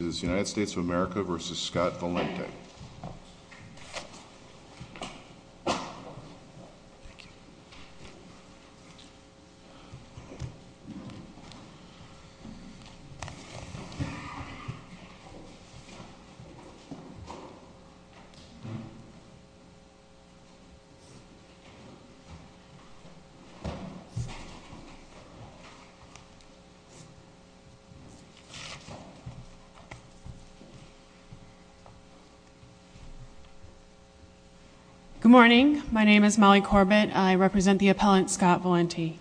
of America v. Scott Valenti. Good morning. My name is Molly Corbett. I represent the appellant Scott Valenti.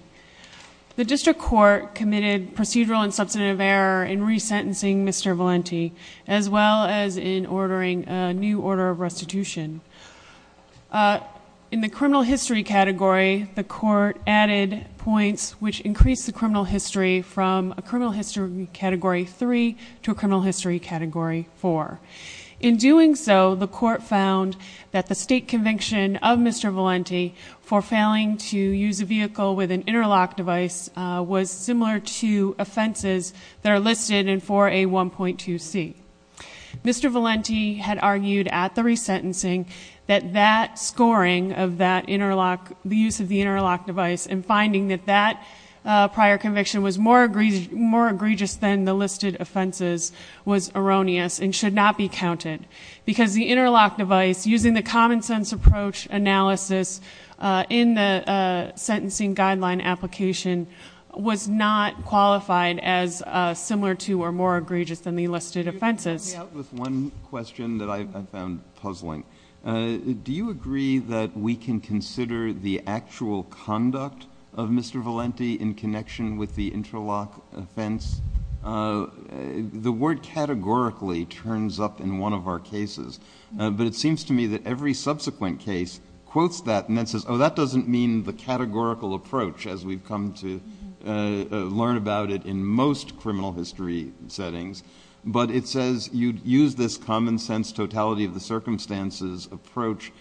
The district court committed procedural and substantive error in resentencing Mr. Valenti, as well as in ordering a new order of restitution. In the criminal history category, the court added points which increase the criminal history from a criminal history category 3 to a criminal history category 4. In doing so, the court found that the state conviction of Mr. Valenti for failing to use a vehicle with an interlock device was similar to offenses that are listed in 4A1.2c. Mr. Valenti had argued at the resentencing that that scoring of that interlock, the use of the interlock device, and finding that that prior conviction was more egregious than the listed offenses was erroneous and should not be counted, because the interlock device, using the common sense approach analysis in the sentencing guideline application, was not qualified as similar to or more egregious than the listed offenses. Let me start out with one question that I found puzzling. Do you agree that we can consider the actual conduct of Mr. Valenti in connection with the interlock offense? The word categorically turns up in one of our cases, but it seems to me that every subsequent case quotes that and then says, oh, that doesn't mean the categorical approach, as we've come to learn about it in most criminal history settings, but it says you'd use this common sense totality of the circumstances approach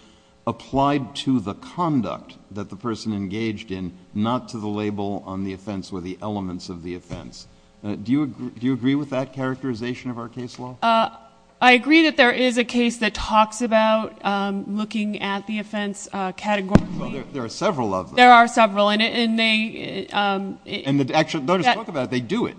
applied to the conduct that the person engaged in, not to the label on the offense or the elements of the offense. Do you agree with that characterization of our case law? I agree that there is a case that talks about looking at the offense categorically. There are several of them. There are several, and they— And they don't just talk about it, they do it.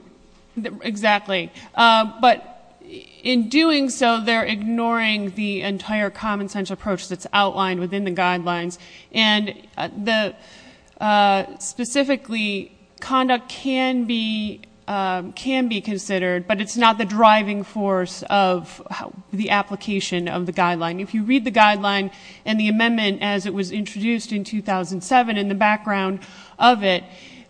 Exactly. But in doing so, they're ignoring the entire common sense approach that's outlined within the guidelines, and specifically, conduct can be considered, but it's not the driving force of the application of the guideline. If you read the guideline and the amendment as it was introduced in 2007, in the background of it,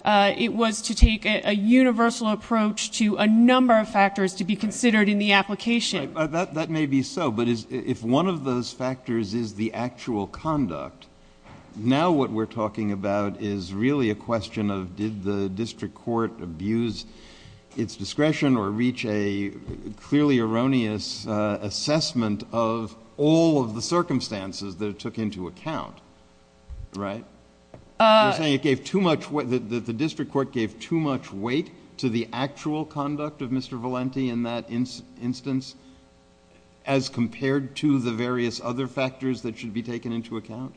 it was to take a universal approach to a number of factors to be considered in the application. That may be so, but if one of those factors is the actual conduct, now what we're talking about is really a question of did the district court abuse its discretion or reach a clearly erroneous assessment of all of the circumstances that it took into account, right? The district court gave too much weight to the actual conduct of Mr. Valenti in that instance, as compared to the various other factors that should be taken into account?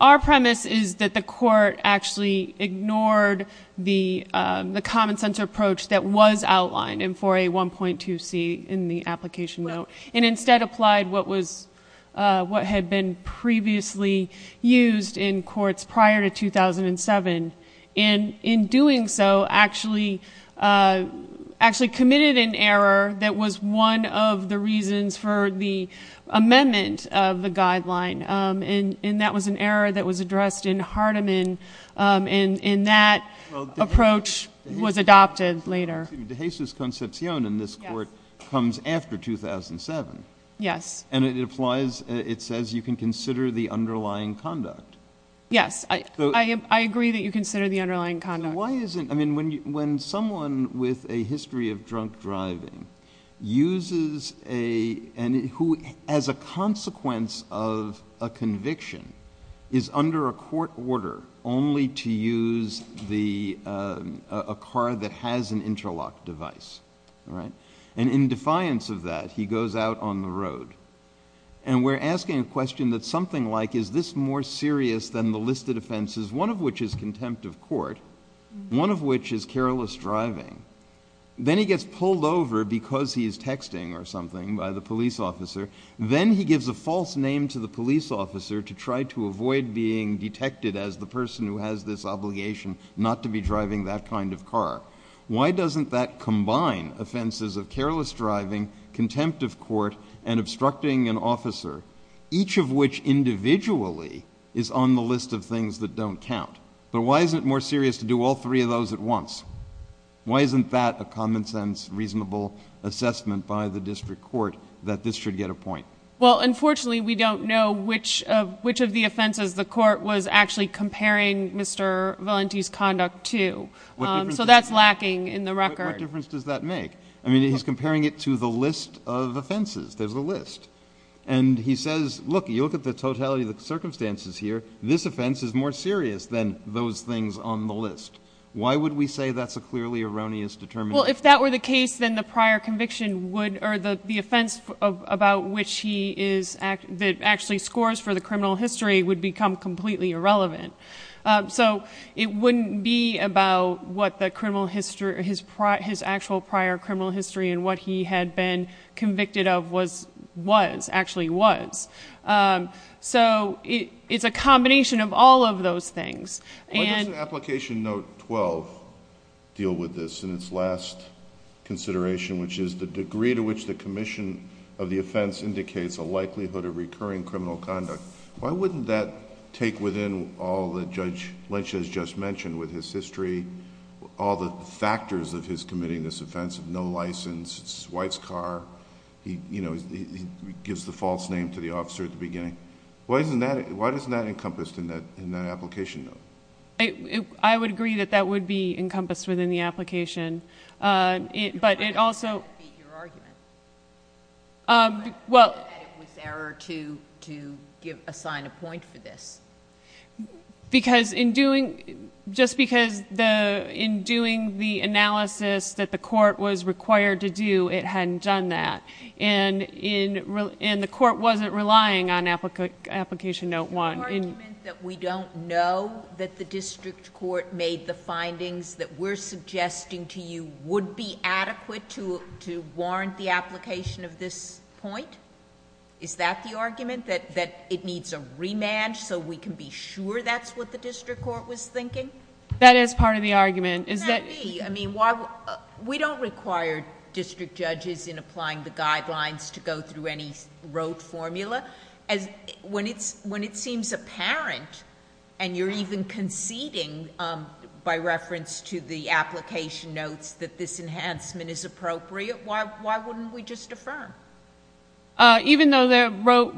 Our premise is that the court actually ignored the common sense approach that was outlined in 4A1.2C in the application note, and instead applied what had been previously used in courts prior to 2007, and in doing so, actually committed an error that was one of the reasons for the amendment of the guideline, and that was an error that was addressed in Hardeman, and in that approach was adopted later. De Jesus Concepcion in this court comes after 2007. Yes. And it applies, it says you can consider the underlying conduct. Yes, I agree that you consider the underlying conduct. So why isn't, I mean, when someone with a history of drunk driving uses a, and who as a consequence of a conviction is under a court order only to use the, a car that has an interlock device, right? And in defiance of that, he goes out on the road, and we're asking a question that's something like is this more serious than the listed offenses, one of which is contempt of court, one of which is careless driving. Then he gets pulled over because he is texting or something by the police officer. Then he gives a false name to the police officer to try to avoid being detected as the person who has this obligation not to be driving that kind of car. Why doesn't that combine offenses of careless driving, contempt of court, and obstructing an officer, each of which individually is on the list of things that don't count? But why isn't it more serious to do all three of those at once? Why isn't that a common sense, reasonable assessment by the district court that this should get a point? Well, unfortunately, we don't know which of, which of the offenses the court was actually comparing Mr. Valenti's conduct to. So that's lacking in the record. What difference does that make? I mean, he's comparing it to the list of offenses, there's a list. And he says, look, you look at the totality of the circumstances here, this offense is more serious than those things on the list. Why would we say that's a clearly erroneous determination? Well, if that were the case, then the prior conviction would, or the offense about which he is, that actually scores for the criminal history would become completely irrelevant. So it wouldn't be about what the criminal history, his actual prior criminal history and what he had been convicted of was, was, actually was. So it's a combination of all of those things. Why doesn't Application Note 12 deal with this in its last consideration, which is the degree to which the commission of the offense indicates a likelihood of recurring criminal conduct? Why wouldn't that take within all that Judge Lynch has just mentioned with his history, all the factors of his committing this offense, no license, white's car, he gives the false name to the officer at the beginning. Why isn't that, why isn't that encompassed in that, in that application note? I would agree that that would be encompassed within the application. But it also... Your argument. Well... That it was error to, to give, assign a point for this. Because in doing, just because the, in doing the analysis that the court was required to do, the application note one... Is the argument that we don't know that the district court made the findings that we're suggesting to you would be adequate to, to warrant the application of this point? Is that the argument, that, that it needs a remand so we can be sure that's what the district court was thinking? That is part of the argument. Is that... Could that be? I mean, why... We don't require district judges in applying the guidelines to go through any note formula. As, when it's, when it seems apparent, and you're even conceding, by reference to the application notes, that this enhancement is appropriate, why, why wouldn't we just defer? Even though the wrote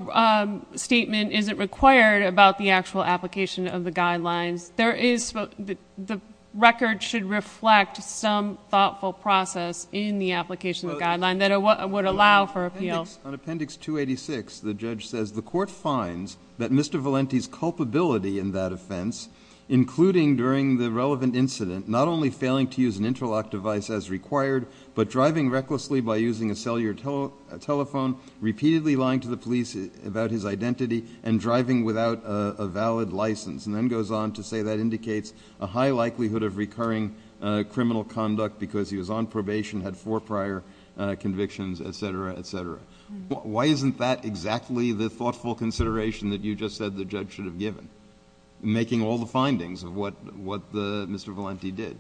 statement isn't required about the actual application of the guidelines, there is, the record should reflect some thoughtful process in the application of the guideline that would allow for appeal. On appendix, on appendix 286, the judge says, the court finds that Mr. Valenti's culpability in that offense, including during the relevant incident, not only failing to use an interlock device as required, but driving recklessly by using a cellular telephone, repeatedly lying to the police about his identity, and driving without a valid license, and then goes on to say that indicates a high likelihood of recurring criminal conduct because he was on probation, had four prior convictions, et cetera, et cetera. Why isn't that exactly the thoughtful consideration that you just said the judge should have given, making all the findings of what, what the, Mr. Valenti did?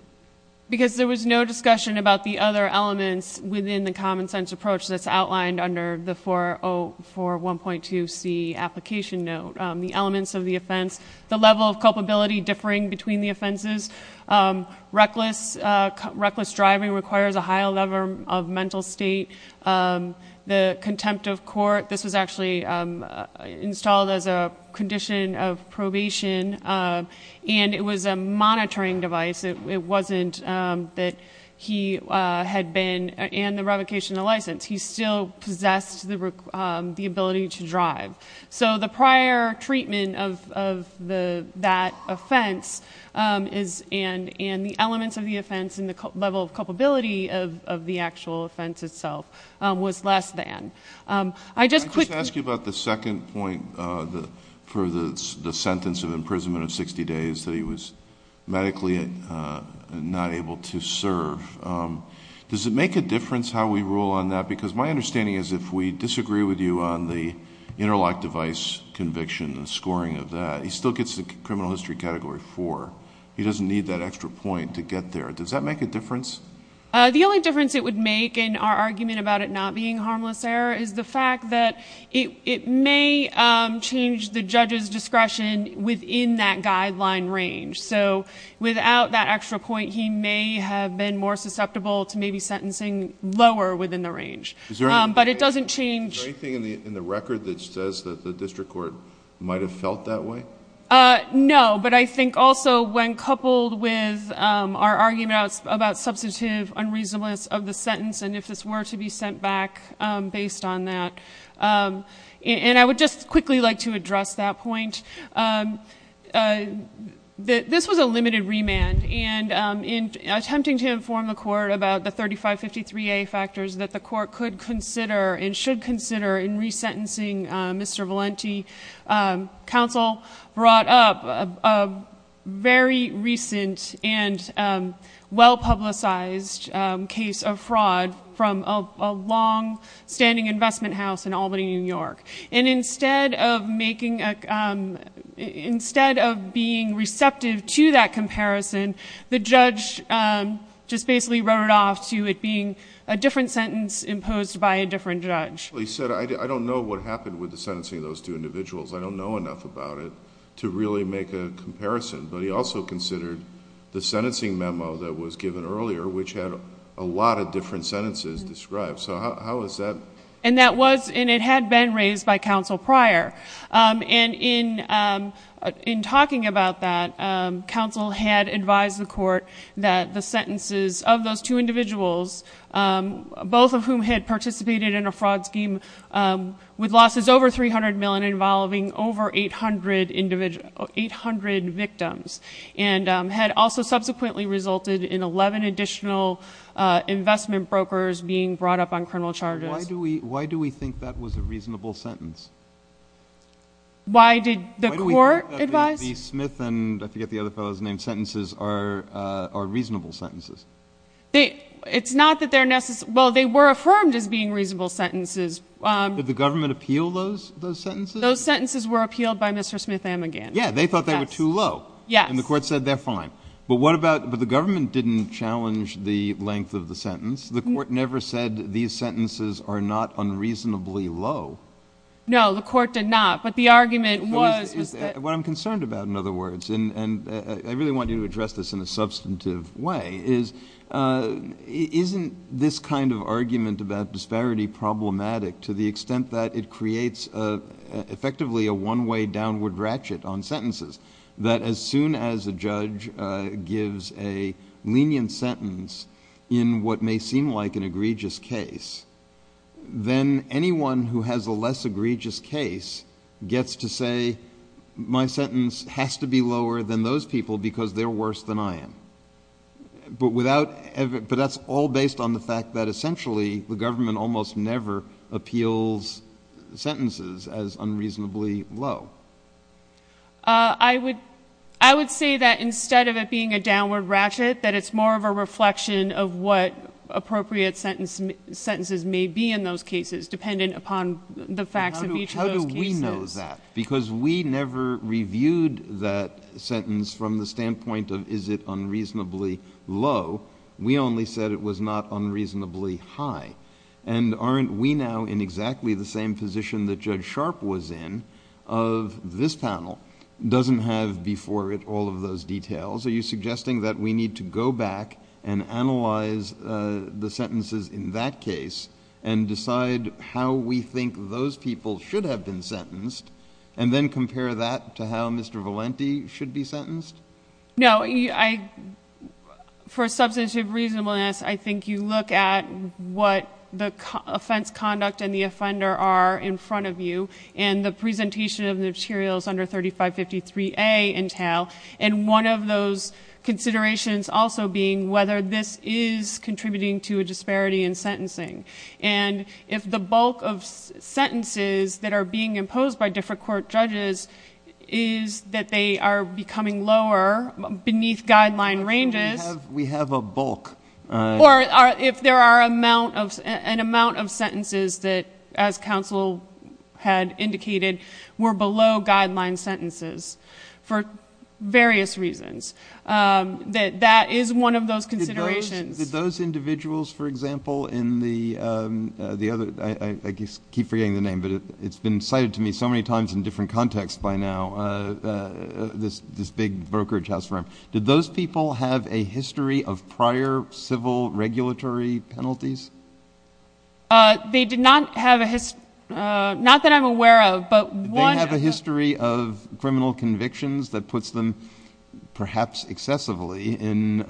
Because there was no discussion about the other elements within the common sense approach that's outlined under the 404.1.2c application note. The elements of the offense, the level of culpability differing between the offenses, reckless, reckless driving requires a high level of mental state, the contempt of court, this was actually installed as a condition of probation, and it was a monitoring device, it wasn't that he had been, and the revocation of license, he still possessed the ability to drive. So the prior treatment of that offense is, and the elements of the offense and the level of culpability of the actual offense itself was less than. I just quickly- Can I just ask you about the second point for the sentence of imprisonment of 60 days that he was medically not able to serve? Does it make a difference how we rule on that? Because my understanding is if we disagree with you on the interlock device conviction and scoring of that, he still gets the criminal history category four. He doesn't need that extra point to get there. Does that make a difference? The only difference it would make in our argument about it not being harmless error is the fact that it may change the judge's discretion within that guideline range. So without that extra point, he may have been more susceptible to maybe sentencing lower within the range. But it doesn't change- Is there anything in the record that says that the district court might have felt that way? No, but I think also when coupled with our argument about substantive unreasonableness of the sentence and if this were to be sent back based on that. And I would just quickly like to address that point. This was a limited remand and in attempting to inform the court about the 3553A factors that the court could consider and should consider in resentencing Mr. Valenti, counsel brought up a very recent and well-publicized case of fraud from a long-standing investment house in Albany, New York. And instead of being receptive to that comparison, the judge just basically wrote it off to it being a different sentence imposed by a different judge. He said, I don't know what happened with the sentencing of those two individuals. I don't know enough about it to really make a comparison. But he also considered the sentencing memo that was given earlier, which had a lot of different sentences described. So how is that- And that was, and it had been raised by counsel prior. And in talking about that, counsel had advised the court that the sentences of those two individuals, both of whom had participated in a fraud scheme with losses over 300 million involving over 800 victims, and had also subsequently resulted in 11 additional investment brokers being brought up on criminal charges. Why do we think that was a reasonable sentence? Why did the court advise? Why do we think that the Smith and, I forget the other fellow's name, sentences are reasonable sentences? It's not that they're necessary. Well, they were affirmed as being reasonable sentences. Did the government appeal those sentences? Those sentences were appealed by Mr. Smith-Amigand. Yeah, they thought they were too low. And the court said they're fine. But what about, but the government didn't challenge the length of the sentence. The court never said these sentences are not unreasonably low. No, the court did not. But the argument was- What I'm concerned about, in other words, and I really want you to address this in a substantive way, is isn't this kind of argument about disparity problematic to the extent that it creates effectively a one-way downward ratchet on sentences? That as soon as a judge gives a lenient sentence in what may seem like an egregious case, then anyone who has a less egregious case gets to say, my sentence has to be lower than those people because they're worse than I am. But without, but that's all based on the fact that essentially the government almost never appeals sentences as unreasonably low. I would say that instead of it being a downward ratchet, that it's more of a reflection of what appropriate sentences may be in those cases, dependent upon the facts of each of those cases. How do we know that? Because we never reviewed that sentence from the standpoint of, is it unreasonably low? We only said it was not unreasonably high. And aren't we now in exactly the same position that Judge Sharpe was in of this panel? Doesn't have before it all of those details. Are you suggesting that we need to go back and analyze the sentences in that case, and decide how we think those people should have been sentenced, and then compare that to how Mr. Valenti should be sentenced? No, for substantive reasonableness, I think you look at what the offense conduct and the offender are in front of you, and the presentation of the materials under 3553A entail. And one of those considerations also being whether this is contributing to a disparity in sentencing. And if the bulk of sentences that are being imposed by different court judges is that they are becoming lower beneath guideline ranges. We have a bulk. Or if there are an amount of sentences that, as counsel had indicated, were below guideline sentences for various reasons, that that is one of those considerations. Did those individuals, for example, in the other, I keep forgetting the name, but it's been cited to me so many times in different contexts by now, this big brokerage house firm. Did those people have a history of prior civil regulatory penalties? They did not have a, not that I'm aware of, but one- Did they have a history of criminal convictions that puts them, perhaps excessively, in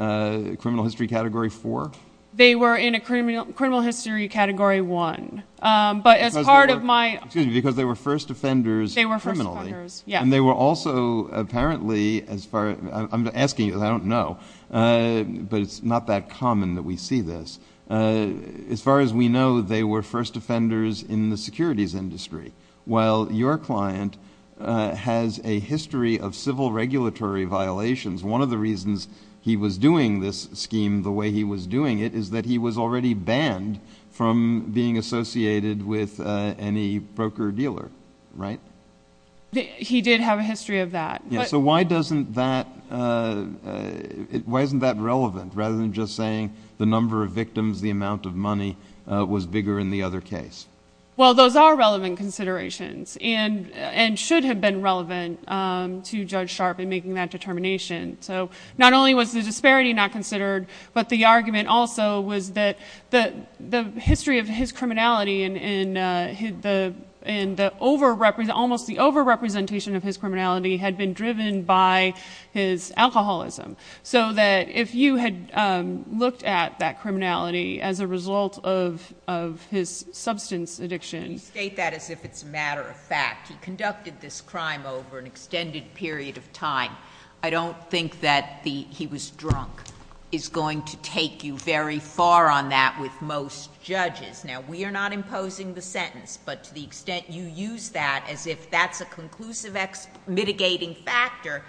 criminal history category four? They were in a criminal history category one. But as part of my- Excuse me, because they were first offenders criminally. They were first offenders, yeah. And they were also apparently, as far, I'm asking you, I don't know. But it's not that common that we see this. As far as we know, they were first offenders in the securities industry. While your client has a history of civil regulatory violations. One of the reasons he was doing this scheme the way he was doing it is that he was already banned from being associated with any broker dealer, right? He did have a history of that. Yeah, so why doesn't that, why isn't that relevant, rather than just saying the number of victims, the amount of money was bigger in the other case? Well, those are relevant considerations, and should have been relevant to Judge Sharp in making that determination. So, not only was the disparity not considered, but the argument also was that the history of his criminality and almost the over-representation of his criminality had been driven by his alcoholism. So that if you had looked at that criminality as a result of his substance addiction- You state that as if it's a matter of fact. He conducted this crime over an extended period of time. I don't think that the, he was drunk, is going to take you very far on that with most judges. Now, we are not imposing the sentence, but to the extent you use that as if that's a conclusive mitigating factor,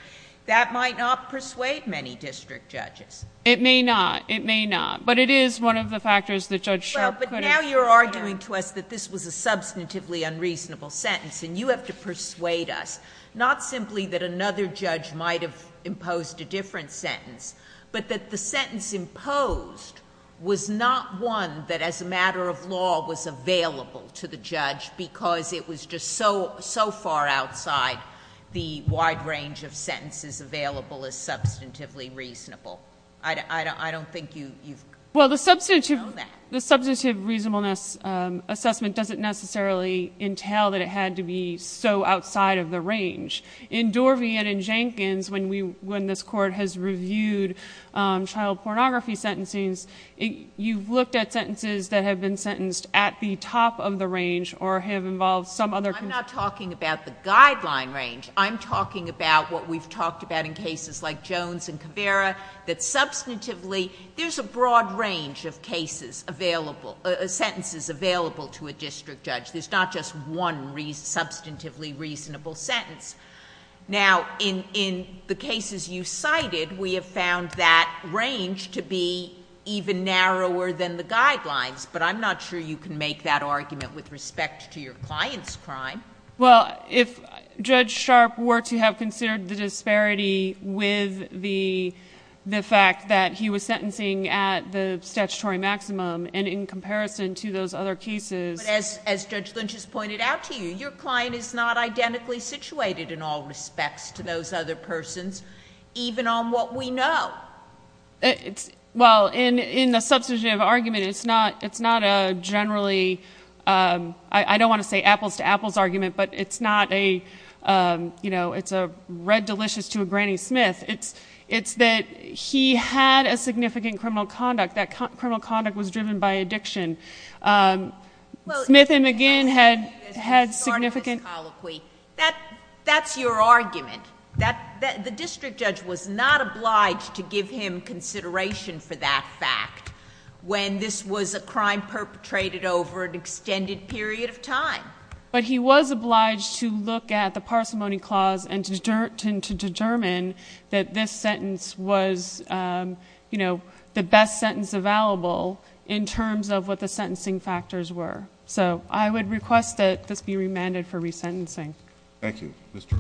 that might not persuade many district judges. It may not, it may not, but it is one of the factors that Judge Sharp- Well, but now you're arguing to us that this was a substantively unreasonable sentence, and you have to persuade us, not simply that another judge might have imposed a different sentence, but that the sentence imposed was not one that as a matter of law was available to the judge, because it was just so far outside the wide range of sentences available as substantively reasonable. I don't think you've- Well, the substantive reasonableness assessment doesn't necessarily entail that it had to be so outside of the range. In Dorvian and Jenkins, when this court has reviewed child pornography sentencings, you've looked at sentences that have been sentenced at the top of the range or have involved some other- I'm not talking about the guideline range. I'm talking about what we've talked about in cases like Jones and Caveira, that substantively, there's a broad range of sentences available to a district judge. There's not just one substantively reasonable sentence. Now, in the cases you cited, we have found that range to be even narrower than the guidelines, but I'm not sure you can make that argument with respect to your client's crime. Well, if Judge Sharp were to have considered the disparity with the fact that he was sentencing at the statutory maximum, and in comparison to those other cases- But as Judge Lynch has pointed out to you, your client is not identically situated in all respects to those other persons, even on what we know. Well, in the substantive argument, it's not a generally- I don't want to say apples to apples argument, but it's not a red delicious to a Granny Smith. It's that he had a significant criminal conduct. That criminal conduct was driven by addiction. Smith and McGinn had significant- That's your argument. The district judge was not obliged to give him consideration for that fact when this was a crime perpetrated over an extended period of time. But he was obliged to look at the parsimony clause and to determine that this sentence was the best sentence available, in terms of what the sentencing factors were, so I would request that this be remanded for resentencing. Thank you, Mr.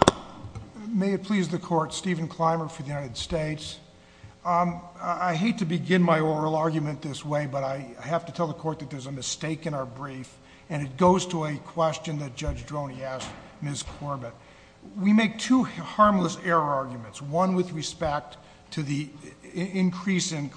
Kleimer. May it please the court, Stephen Kleimer for the United States. I hate to begin my oral argument this way, but I have to tell the court that there's a mistake in our brief, and it goes to a question that Judge Droney asked Ms. Corbett. We make two harmless error arguments, one with respect to the increase in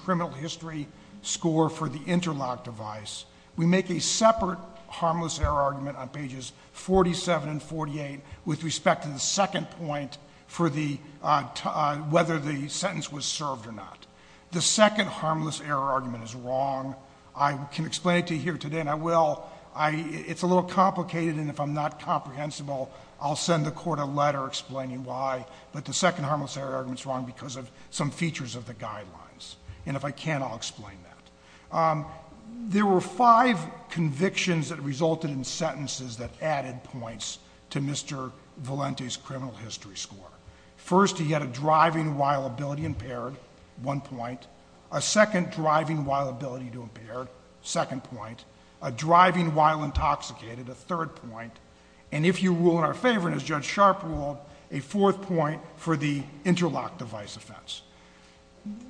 interlock device, we make a separate harmless error argument on pages 47 and 48 with respect to the second point for whether the sentence was served or not. The second harmless error argument is wrong. I can explain it to you here today, and I will, it's a little complicated, and if I'm not comprehensible, I'll send the court a letter explaining why, but the second harmless error argument's wrong because of some features of the guidelines. And if I can, I'll explain that. There were five convictions that resulted in sentences that added points to Mr. Valente's criminal history score. First, he had a driving while ability impaired, one point. A second driving while ability to impaired, second point. A driving while intoxicated, a third point. And if you rule in our favor, and as Judge Sharp ruled, a fourth point for the interlock device offense.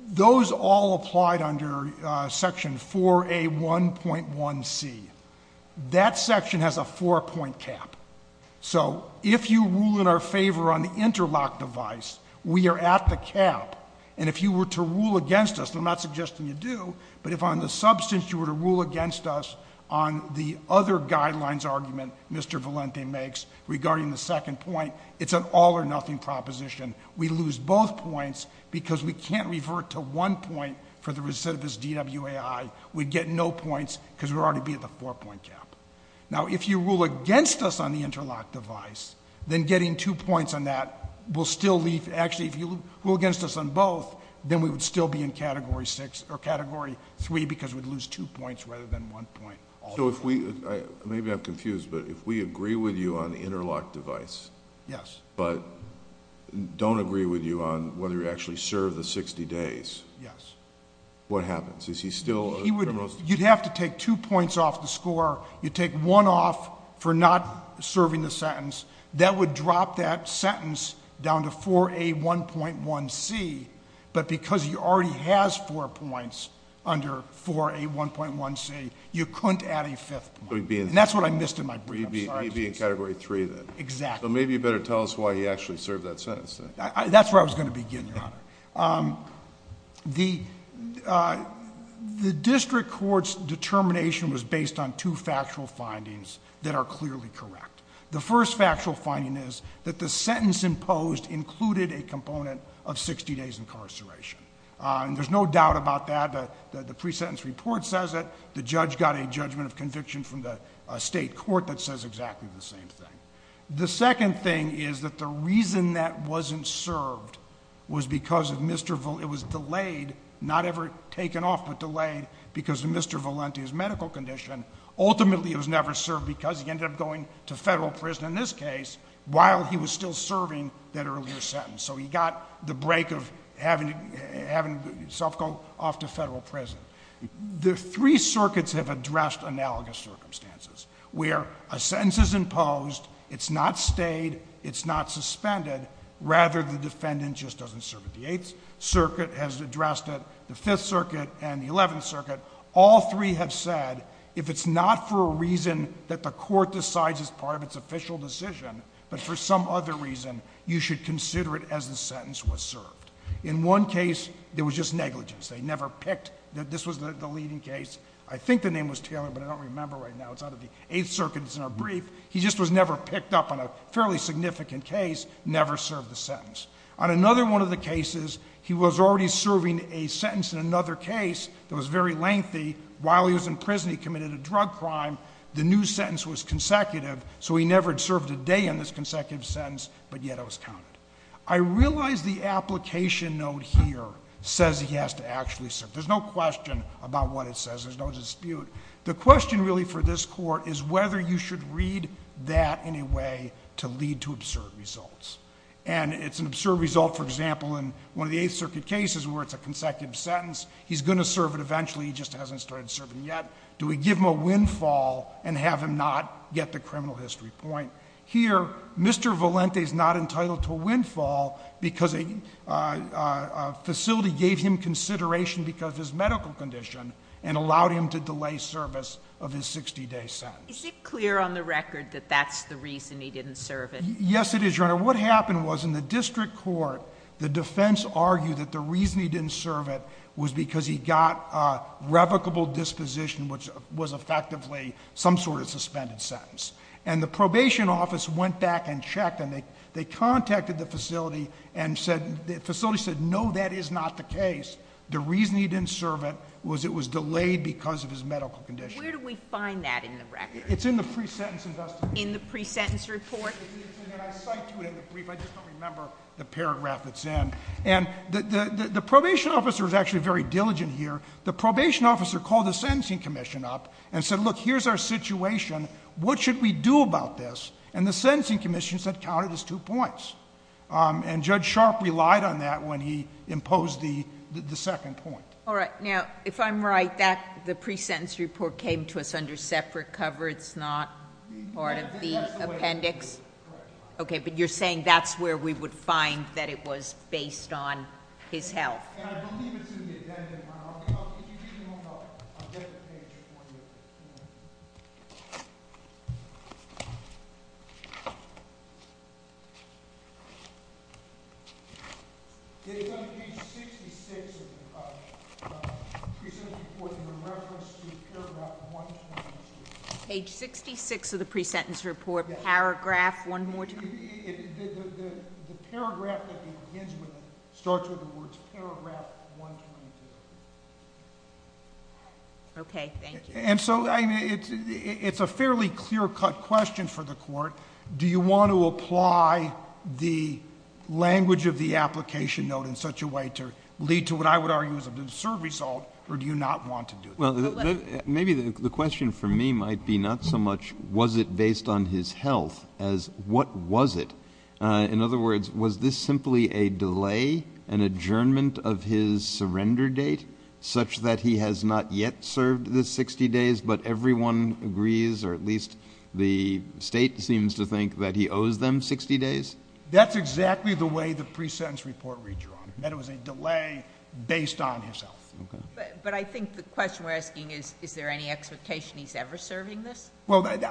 Those all applied under section 4A1.1C. That section has a four point cap. So if you rule in our favor on the interlock device, we are at the cap. And if you were to rule against us, I'm not suggesting you do, but if on the substance you were to rule against us on the other guidelines argument Mr. Valente makes regarding the second point, it's an all or nothing proposition. We lose both points because we can't revert to one point for the recidivist DWAI. We'd get no points because we'd already be at the four point cap. Now, if you rule against us on the interlock device, then getting two points on that will still leave. Actually, if you rule against us on both, then we would still be in category six or category three because we'd lose two points rather than one point. So if we, maybe I'm confused, but if we agree with you on the interlock device. Yes. But don't agree with you on whether you actually serve the 60 days. Yes. What happens? Is he still a criminal? You'd have to take two points off the score. You'd take one off for not serving the sentence. That would drop that sentence down to 4A1.1C. But because he already has four points under 4A1.1C, you couldn't add a fifth point. And that's what I missed in my- You'd be in category three then. Exactly. So maybe you better tell us why he actually served that sentence then. That's where I was going to begin, Your Honor. The district court's determination was based on two factual findings that are clearly correct. The first factual finding is that the sentence imposed included a component of 60 days incarceration. And there's no doubt about that. The pre-sentence report says it. The judge got a judgment of conviction from the state court that says exactly the same thing. The second thing is that the reason that wasn't served was because it was delayed, not ever taken off, but delayed because of Mr. Valenti's medical condition. Ultimately, it was never served because he ended up going to federal prison, in this case, while he was still serving that earlier sentence. So he got the break of having to self-go off to federal prison. The three circuits have addressed analogous circumstances where a sentence is imposed, it's not stayed, it's not suspended, rather the defendant just doesn't serve it. The Eighth Circuit has addressed it, the Fifth Circuit and the Eleventh Circuit. All three have said, if it's not for a reason that the court decides it's part of its official decision, but for some other reason, you should consider it as the sentence was served. In one case, there was just negligence. They never picked, this was the leading case. I think the name was Taylor, but I don't remember right now, it's out of the Eighth Circuit, it's in our brief. He just was never picked up on a fairly significant case, never served the sentence. On another one of the cases, he was already serving a sentence in another case that was very lengthy. While he was in prison, he committed a drug crime. The new sentence was consecutive, so he never had served a day in this consecutive sentence, but yet it was counted. I realize the application note here says he has to actually serve. There's no question about what it says, there's no dispute. The question really for this court is whether you should read that in a way to lead to absurd results. And it's an absurd result, for example, in one of the Eighth Circuit cases where it's a consecutive sentence. He's going to serve it eventually, he just hasn't started serving yet. Do we give him a windfall and have him not get the criminal history point? Here, Mr. Valente is not entitled to a windfall because a facility gave him consideration because of his medical condition. And allowed him to delay service of his 60 day sentence. Is it clear on the record that that's the reason he didn't serve it? Yes it is, Your Honor. What happened was in the district court, the defense argued that the reason he didn't serve it was because he got a revocable disposition, which was effectively some sort of suspended sentence. And the probation office went back and checked and they contacted the facility and said, the facility said no, that is not the case. The reason he didn't serve it was it was delayed because of his medical condition. Where do we find that in the record? It's in the pre-sentence investigation. In the pre-sentence report? It's in there, I cite to it in the brief, I just don't remember the paragraph it's in. And the probation officer was actually very diligent here. The probation officer called the sentencing commission up and said, look, here's our situation. What should we do about this? And the sentencing commission said, count it as two points. And Judge Sharp relied on that when he imposed the second point. All right, now, if I'm right, the pre-sentence report came to us under separate cover. It's not part of the appendix? Okay, but you're saying that's where we would find that it was based on his health. And I believe it's in the addendum. If you need any more help, I'll get the page for you. It's on page 66 of the pre-sentence report in reference to paragraph 123. Page 66 of the pre-sentence report, paragraph, one more time. The paragraph that begins with it starts with the words paragraph 123. Okay, thank you. And so, I mean, it's a fairly clear cut question for the court. Do you want to apply the language of the application note in such a way to lead to what I would argue is a deserved result, or do you not want to do that? Well, maybe the question for me might be not so much was it based on his health as what was it? In other words, was this simply a delay, an adjournment of his surrender date, such that he has not yet served the 60 days, but everyone agrees, or at least the state seems to think that he owes them 60 days? That's exactly the way the pre-sentence report reads, Your Honor, that it was a delay based on his health. But I think the question we're asking is, is there any expectation he's ever serving this? Well, and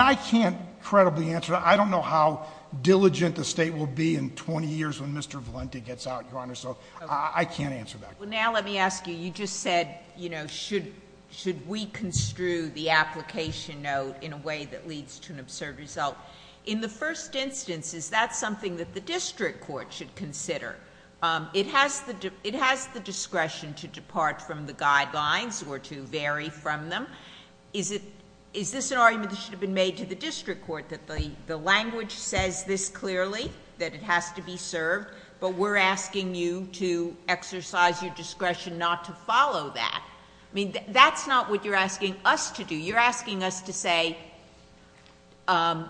I can't credibly answer that. I don't know how diligent the state will be in 20 years when Mr. Valenti gets out, Your Honor, so I can't answer that. Well, now let me ask you, you just said, should we construe the application note in a way that leads to an observed result? In the first instance, is that something that the district court should consider? It has the discretion to depart from the guidelines or to vary from them. Is this an argument that should have been made to the district court that the language says this clearly, that it has to be served? But we're asking you to exercise your discretion not to follow that. I mean, that's not what you're asking us to do. You're asking us to say that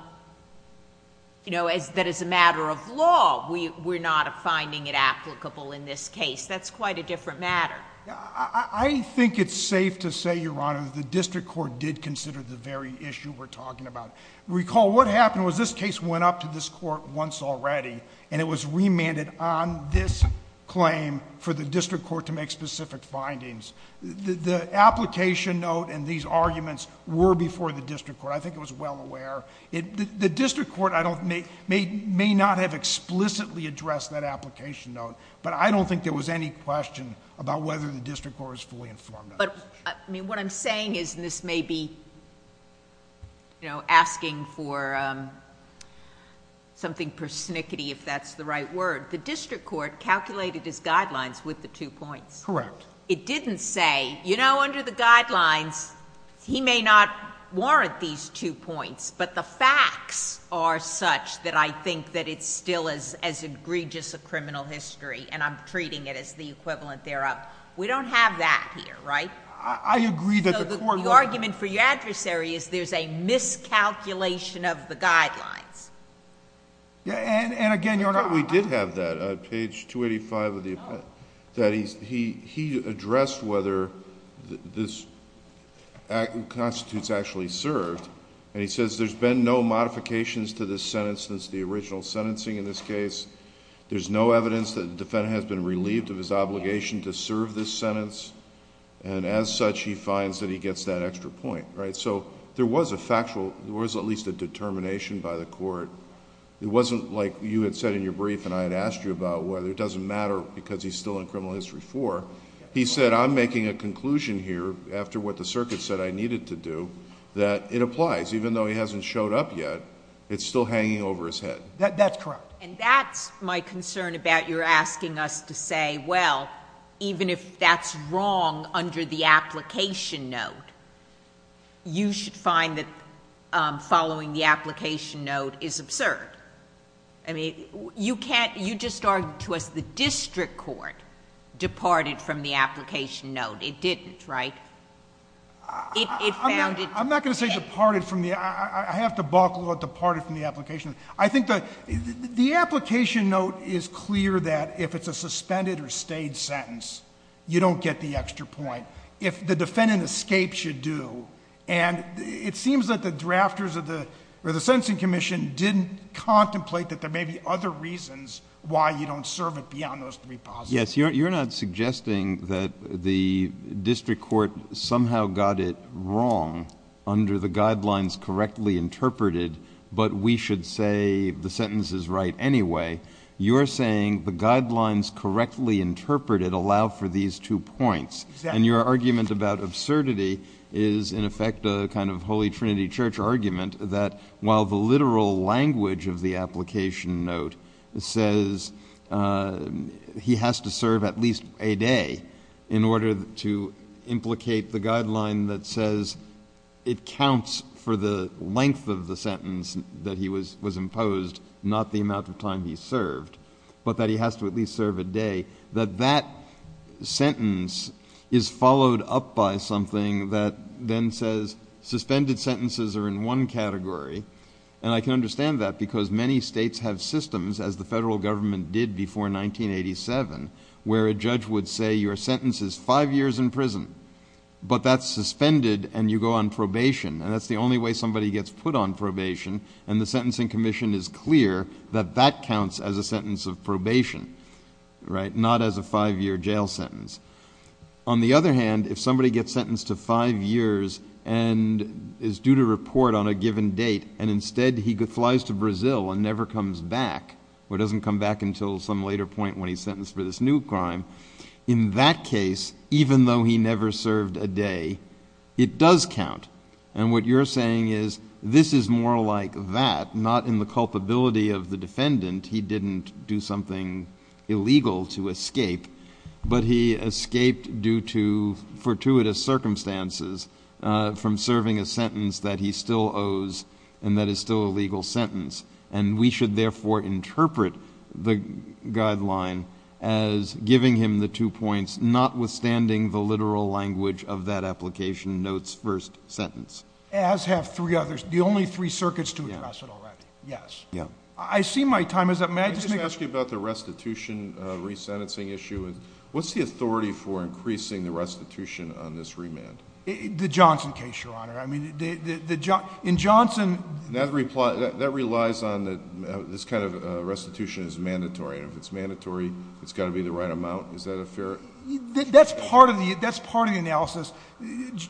as a matter of law, we're not finding it applicable in this case. That's quite a different matter. I think it's safe to say, Your Honor, that the district court did consider the very issue we're talking about. Recall what happened was this case went up to this court once already, and it was remanded on this claim for the district court to make specific findings. The application note and these arguments were before the district court. I think it was well aware. The district court may not have explicitly addressed that application note, but I don't think there was any question about whether the district court was fully informed of this. I mean, what I'm saying is, and this may be asking for something persnickety, if that's the right word, the district court calculated his guidelines with the two points. Correct. It didn't say, you know, under the guidelines, he may not warrant these two points, but the facts are such that I think that it's still as egregious a criminal history, and I'm treating it as the equivalent thereof. We don't have that here, right? I agree that the court- So the argument for your adversary is there's a miscalculation of the guidelines. Yeah, and again, Your Honor- We did have that, page 285 of the- No. That he addressed whether this constitutes actually served, and he says there's been no modifications to this sentence since the original sentencing in this case. There's no evidence that the defendant has been relieved of his obligation to serve this sentence, and as such, he finds that he gets that extra point, right? So there was a factual, there was at least a determination by the court. It wasn't like you had said in your brief, and I had asked you about whether it doesn't matter because he's still in criminal history four. He said, I'm making a conclusion here, after what the circuit said I needed to do, that it applies. Even though he hasn't showed up yet, it's still hanging over his head. That's correct. And that's my concern about your asking us to say, well, even if that's wrong under the application note, you should find that following the application note is absurd. I mean, you just argued to us the district court departed from the application note. It didn't, right? It found it- I'm not going to say departed from the, I have to balk a little at departed from the application. I think the application note is clear that if it's a suspended or stayed sentence, you don't get the extra point. If the defendant escapes, you do. And it seems that the drafters of the, or the sentencing commission didn't contemplate that there may be other reasons why you don't serve it beyond those three positives. Yes, you're not suggesting that the district court somehow got it wrong under the guidelines correctly interpreted, but we should say the sentence is right anyway. You're saying the guidelines correctly interpreted allow for these two points. And your argument about absurdity is, in effect, a kind of Holy Trinity Church argument that while the literal language of the application note says he has to serve at least a day in order to implicate the guideline that says it counts for the length of the sentence that he was imposed, not the amount of time he served. But that he has to at least serve a day. That that sentence is followed up by something that then says suspended sentences are in one category. And I can understand that because many states have systems as the federal government did before 1987. Where a judge would say your sentence is five years in prison, but that's suspended and you go on probation. And that's the only way somebody gets put on probation. And the sentencing commission is clear that that counts as a sentence of probation, right? Not as a five year jail sentence. On the other hand, if somebody gets sentenced to five years and is due to report on a given date, and instead he flies to Brazil and never comes back, or doesn't come back until some later point when he's sentenced for this new crime. In that case, even though he never served a day, it does count. And what you're saying is, this is more like that, not in the culpability of the defendant. He didn't do something illegal to escape. But he escaped due to fortuitous circumstances from serving a sentence that he still owes and that is still a legal sentence. And we should therefore interpret the guideline as giving him the two points, notwithstanding the literal language of that application note's first sentence. As have three others, the only three circuits to address it already. Yes. I see my time is up. May I just ask you about the restitution resentencing issue? What's the authority for increasing the restitution on this remand? The Johnson case, your honor. I mean, in Johnson- That relies on that this kind of restitution is mandatory. And if it's mandatory, it's gotta be the right amount. Is that a fair- That's part of the analysis.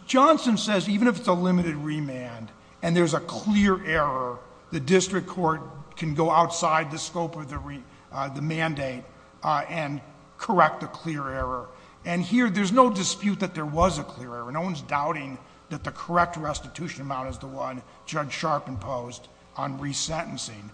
Johnson says, even if it's a limited remand and there's a clear error, the district court can go outside the scope of the mandate and correct the clear error. And here, there's no dispute that there was a clear error. No one's doubting that the correct restitution amount is the one Judge Sharp imposed on resentencing.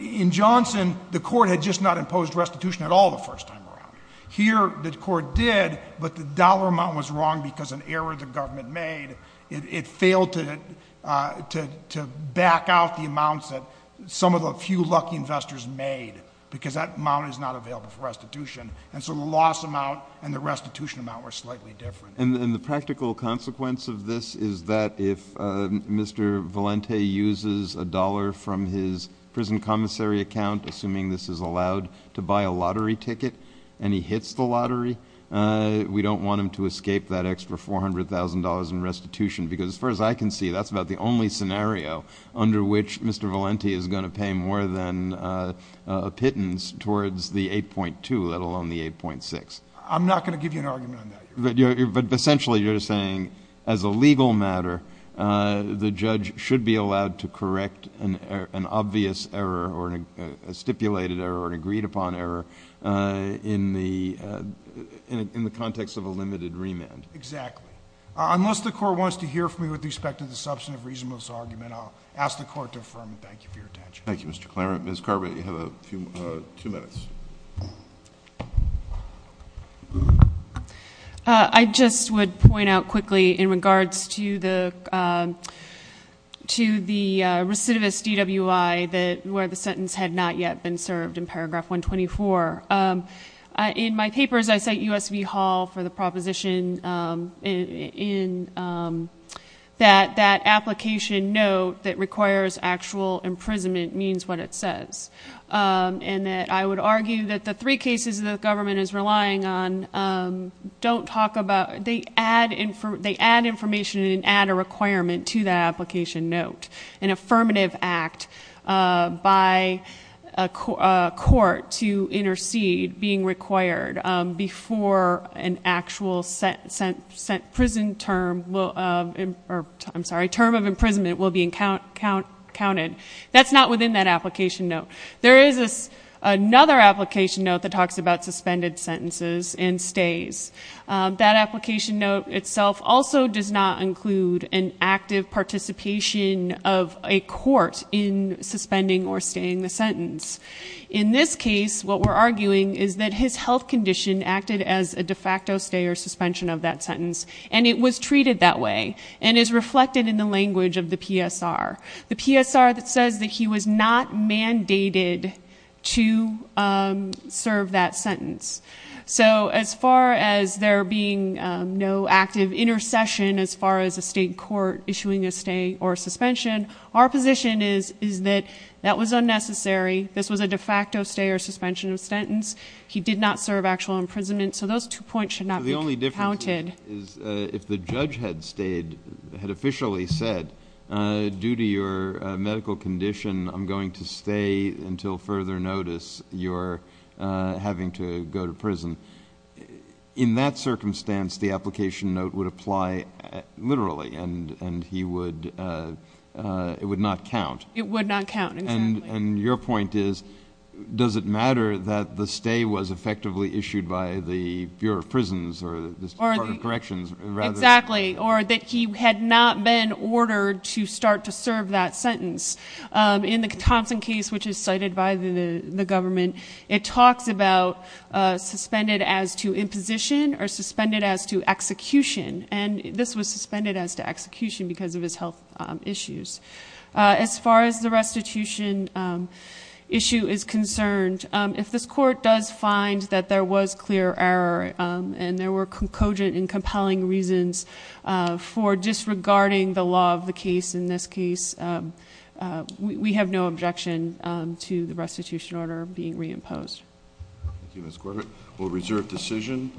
In Johnson, the court had just not imposed restitution at all the first time around. Here, the court did, but the dollar amount was wrong because an error the government made. It failed to back out the amounts that some of the few lucky investors made, because that amount is not available for restitution. And so the loss amount and the restitution amount were slightly different. And the practical consequence of this is that if Mr. Valente uses a dollar from his prison commissary account, assuming this is allowed to buy a lottery ticket, and he hits the lottery, we don't want him to escape that extra $400,000 in restitution. Because as far as I can see, that's about the only scenario under which Mr. Valente is going to pay more than a pittance towards the 8.2, let alone the 8.6. I'm not going to give you an argument on that. But essentially, you're saying as a legal matter, the judge should be allowed to correct an obvious error, or a stipulated error, or an agreed upon error in the context of a limited remand. Exactly. Unless the court wants to hear from me with respect to the substantive reasonableness argument, I'll ask the court to affirm it. Thank you for your attention. Thank you, Mr. Clarence. Ms. Carby, you have two minutes. I just would point out quickly in regards to the recidivist DWI, where the sentence had not yet been served in paragraph 124. In my papers, I cite USV Hall for the proposition in that that application note that requires actual imprisonment means what it says. And that I would argue that the three cases the government is relying on don't talk about, they add information and add a requirement to that application note. An affirmative act by a court to intercede being required before an actual prison term, I'm sorry, term of imprisonment will be counted. That's not within that application note. There is another application note that talks about suspended sentences and stays. That application note itself also does not include an active participation of a court in suspending or staying the sentence. In this case, what we're arguing is that his health condition acted as a de facto stay or suspension of that sentence, and it was treated that way, and is reflected in the language of the PSR. The PSR that says that he was not mandated to serve that sentence. So as far as there being no active intercession as far as a state court issuing a stay or suspension, our position is that that was unnecessary. This was a de facto stay or suspension of sentence. He did not serve actual imprisonment, so those two points should not be counted. If the judge had stayed, had officially said, due to your medical condition, I'm going to stay until further notice, you're having to go to prison. In that circumstance, the application note would apply literally, and it would not count. It would not count, exactly. And your point is, does it matter that the stay was effectively issued by the Bureau of Prisons or the Department of Corrections rather than- Exactly, or that he had not been ordered to start to serve that sentence. In the Thompson case, which is cited by the government, it talks about suspended as to imposition or suspended as to execution. And this was suspended as to execution because of his health issues. As far as the restitution issue is concerned, if this court does find that there was clear error and there were cogent and compelling reasons for disregarding the law of the case in this case, we have no objection to the restitution order being reimposed. Thank you, Ms. Corbett. We'll reserve decision.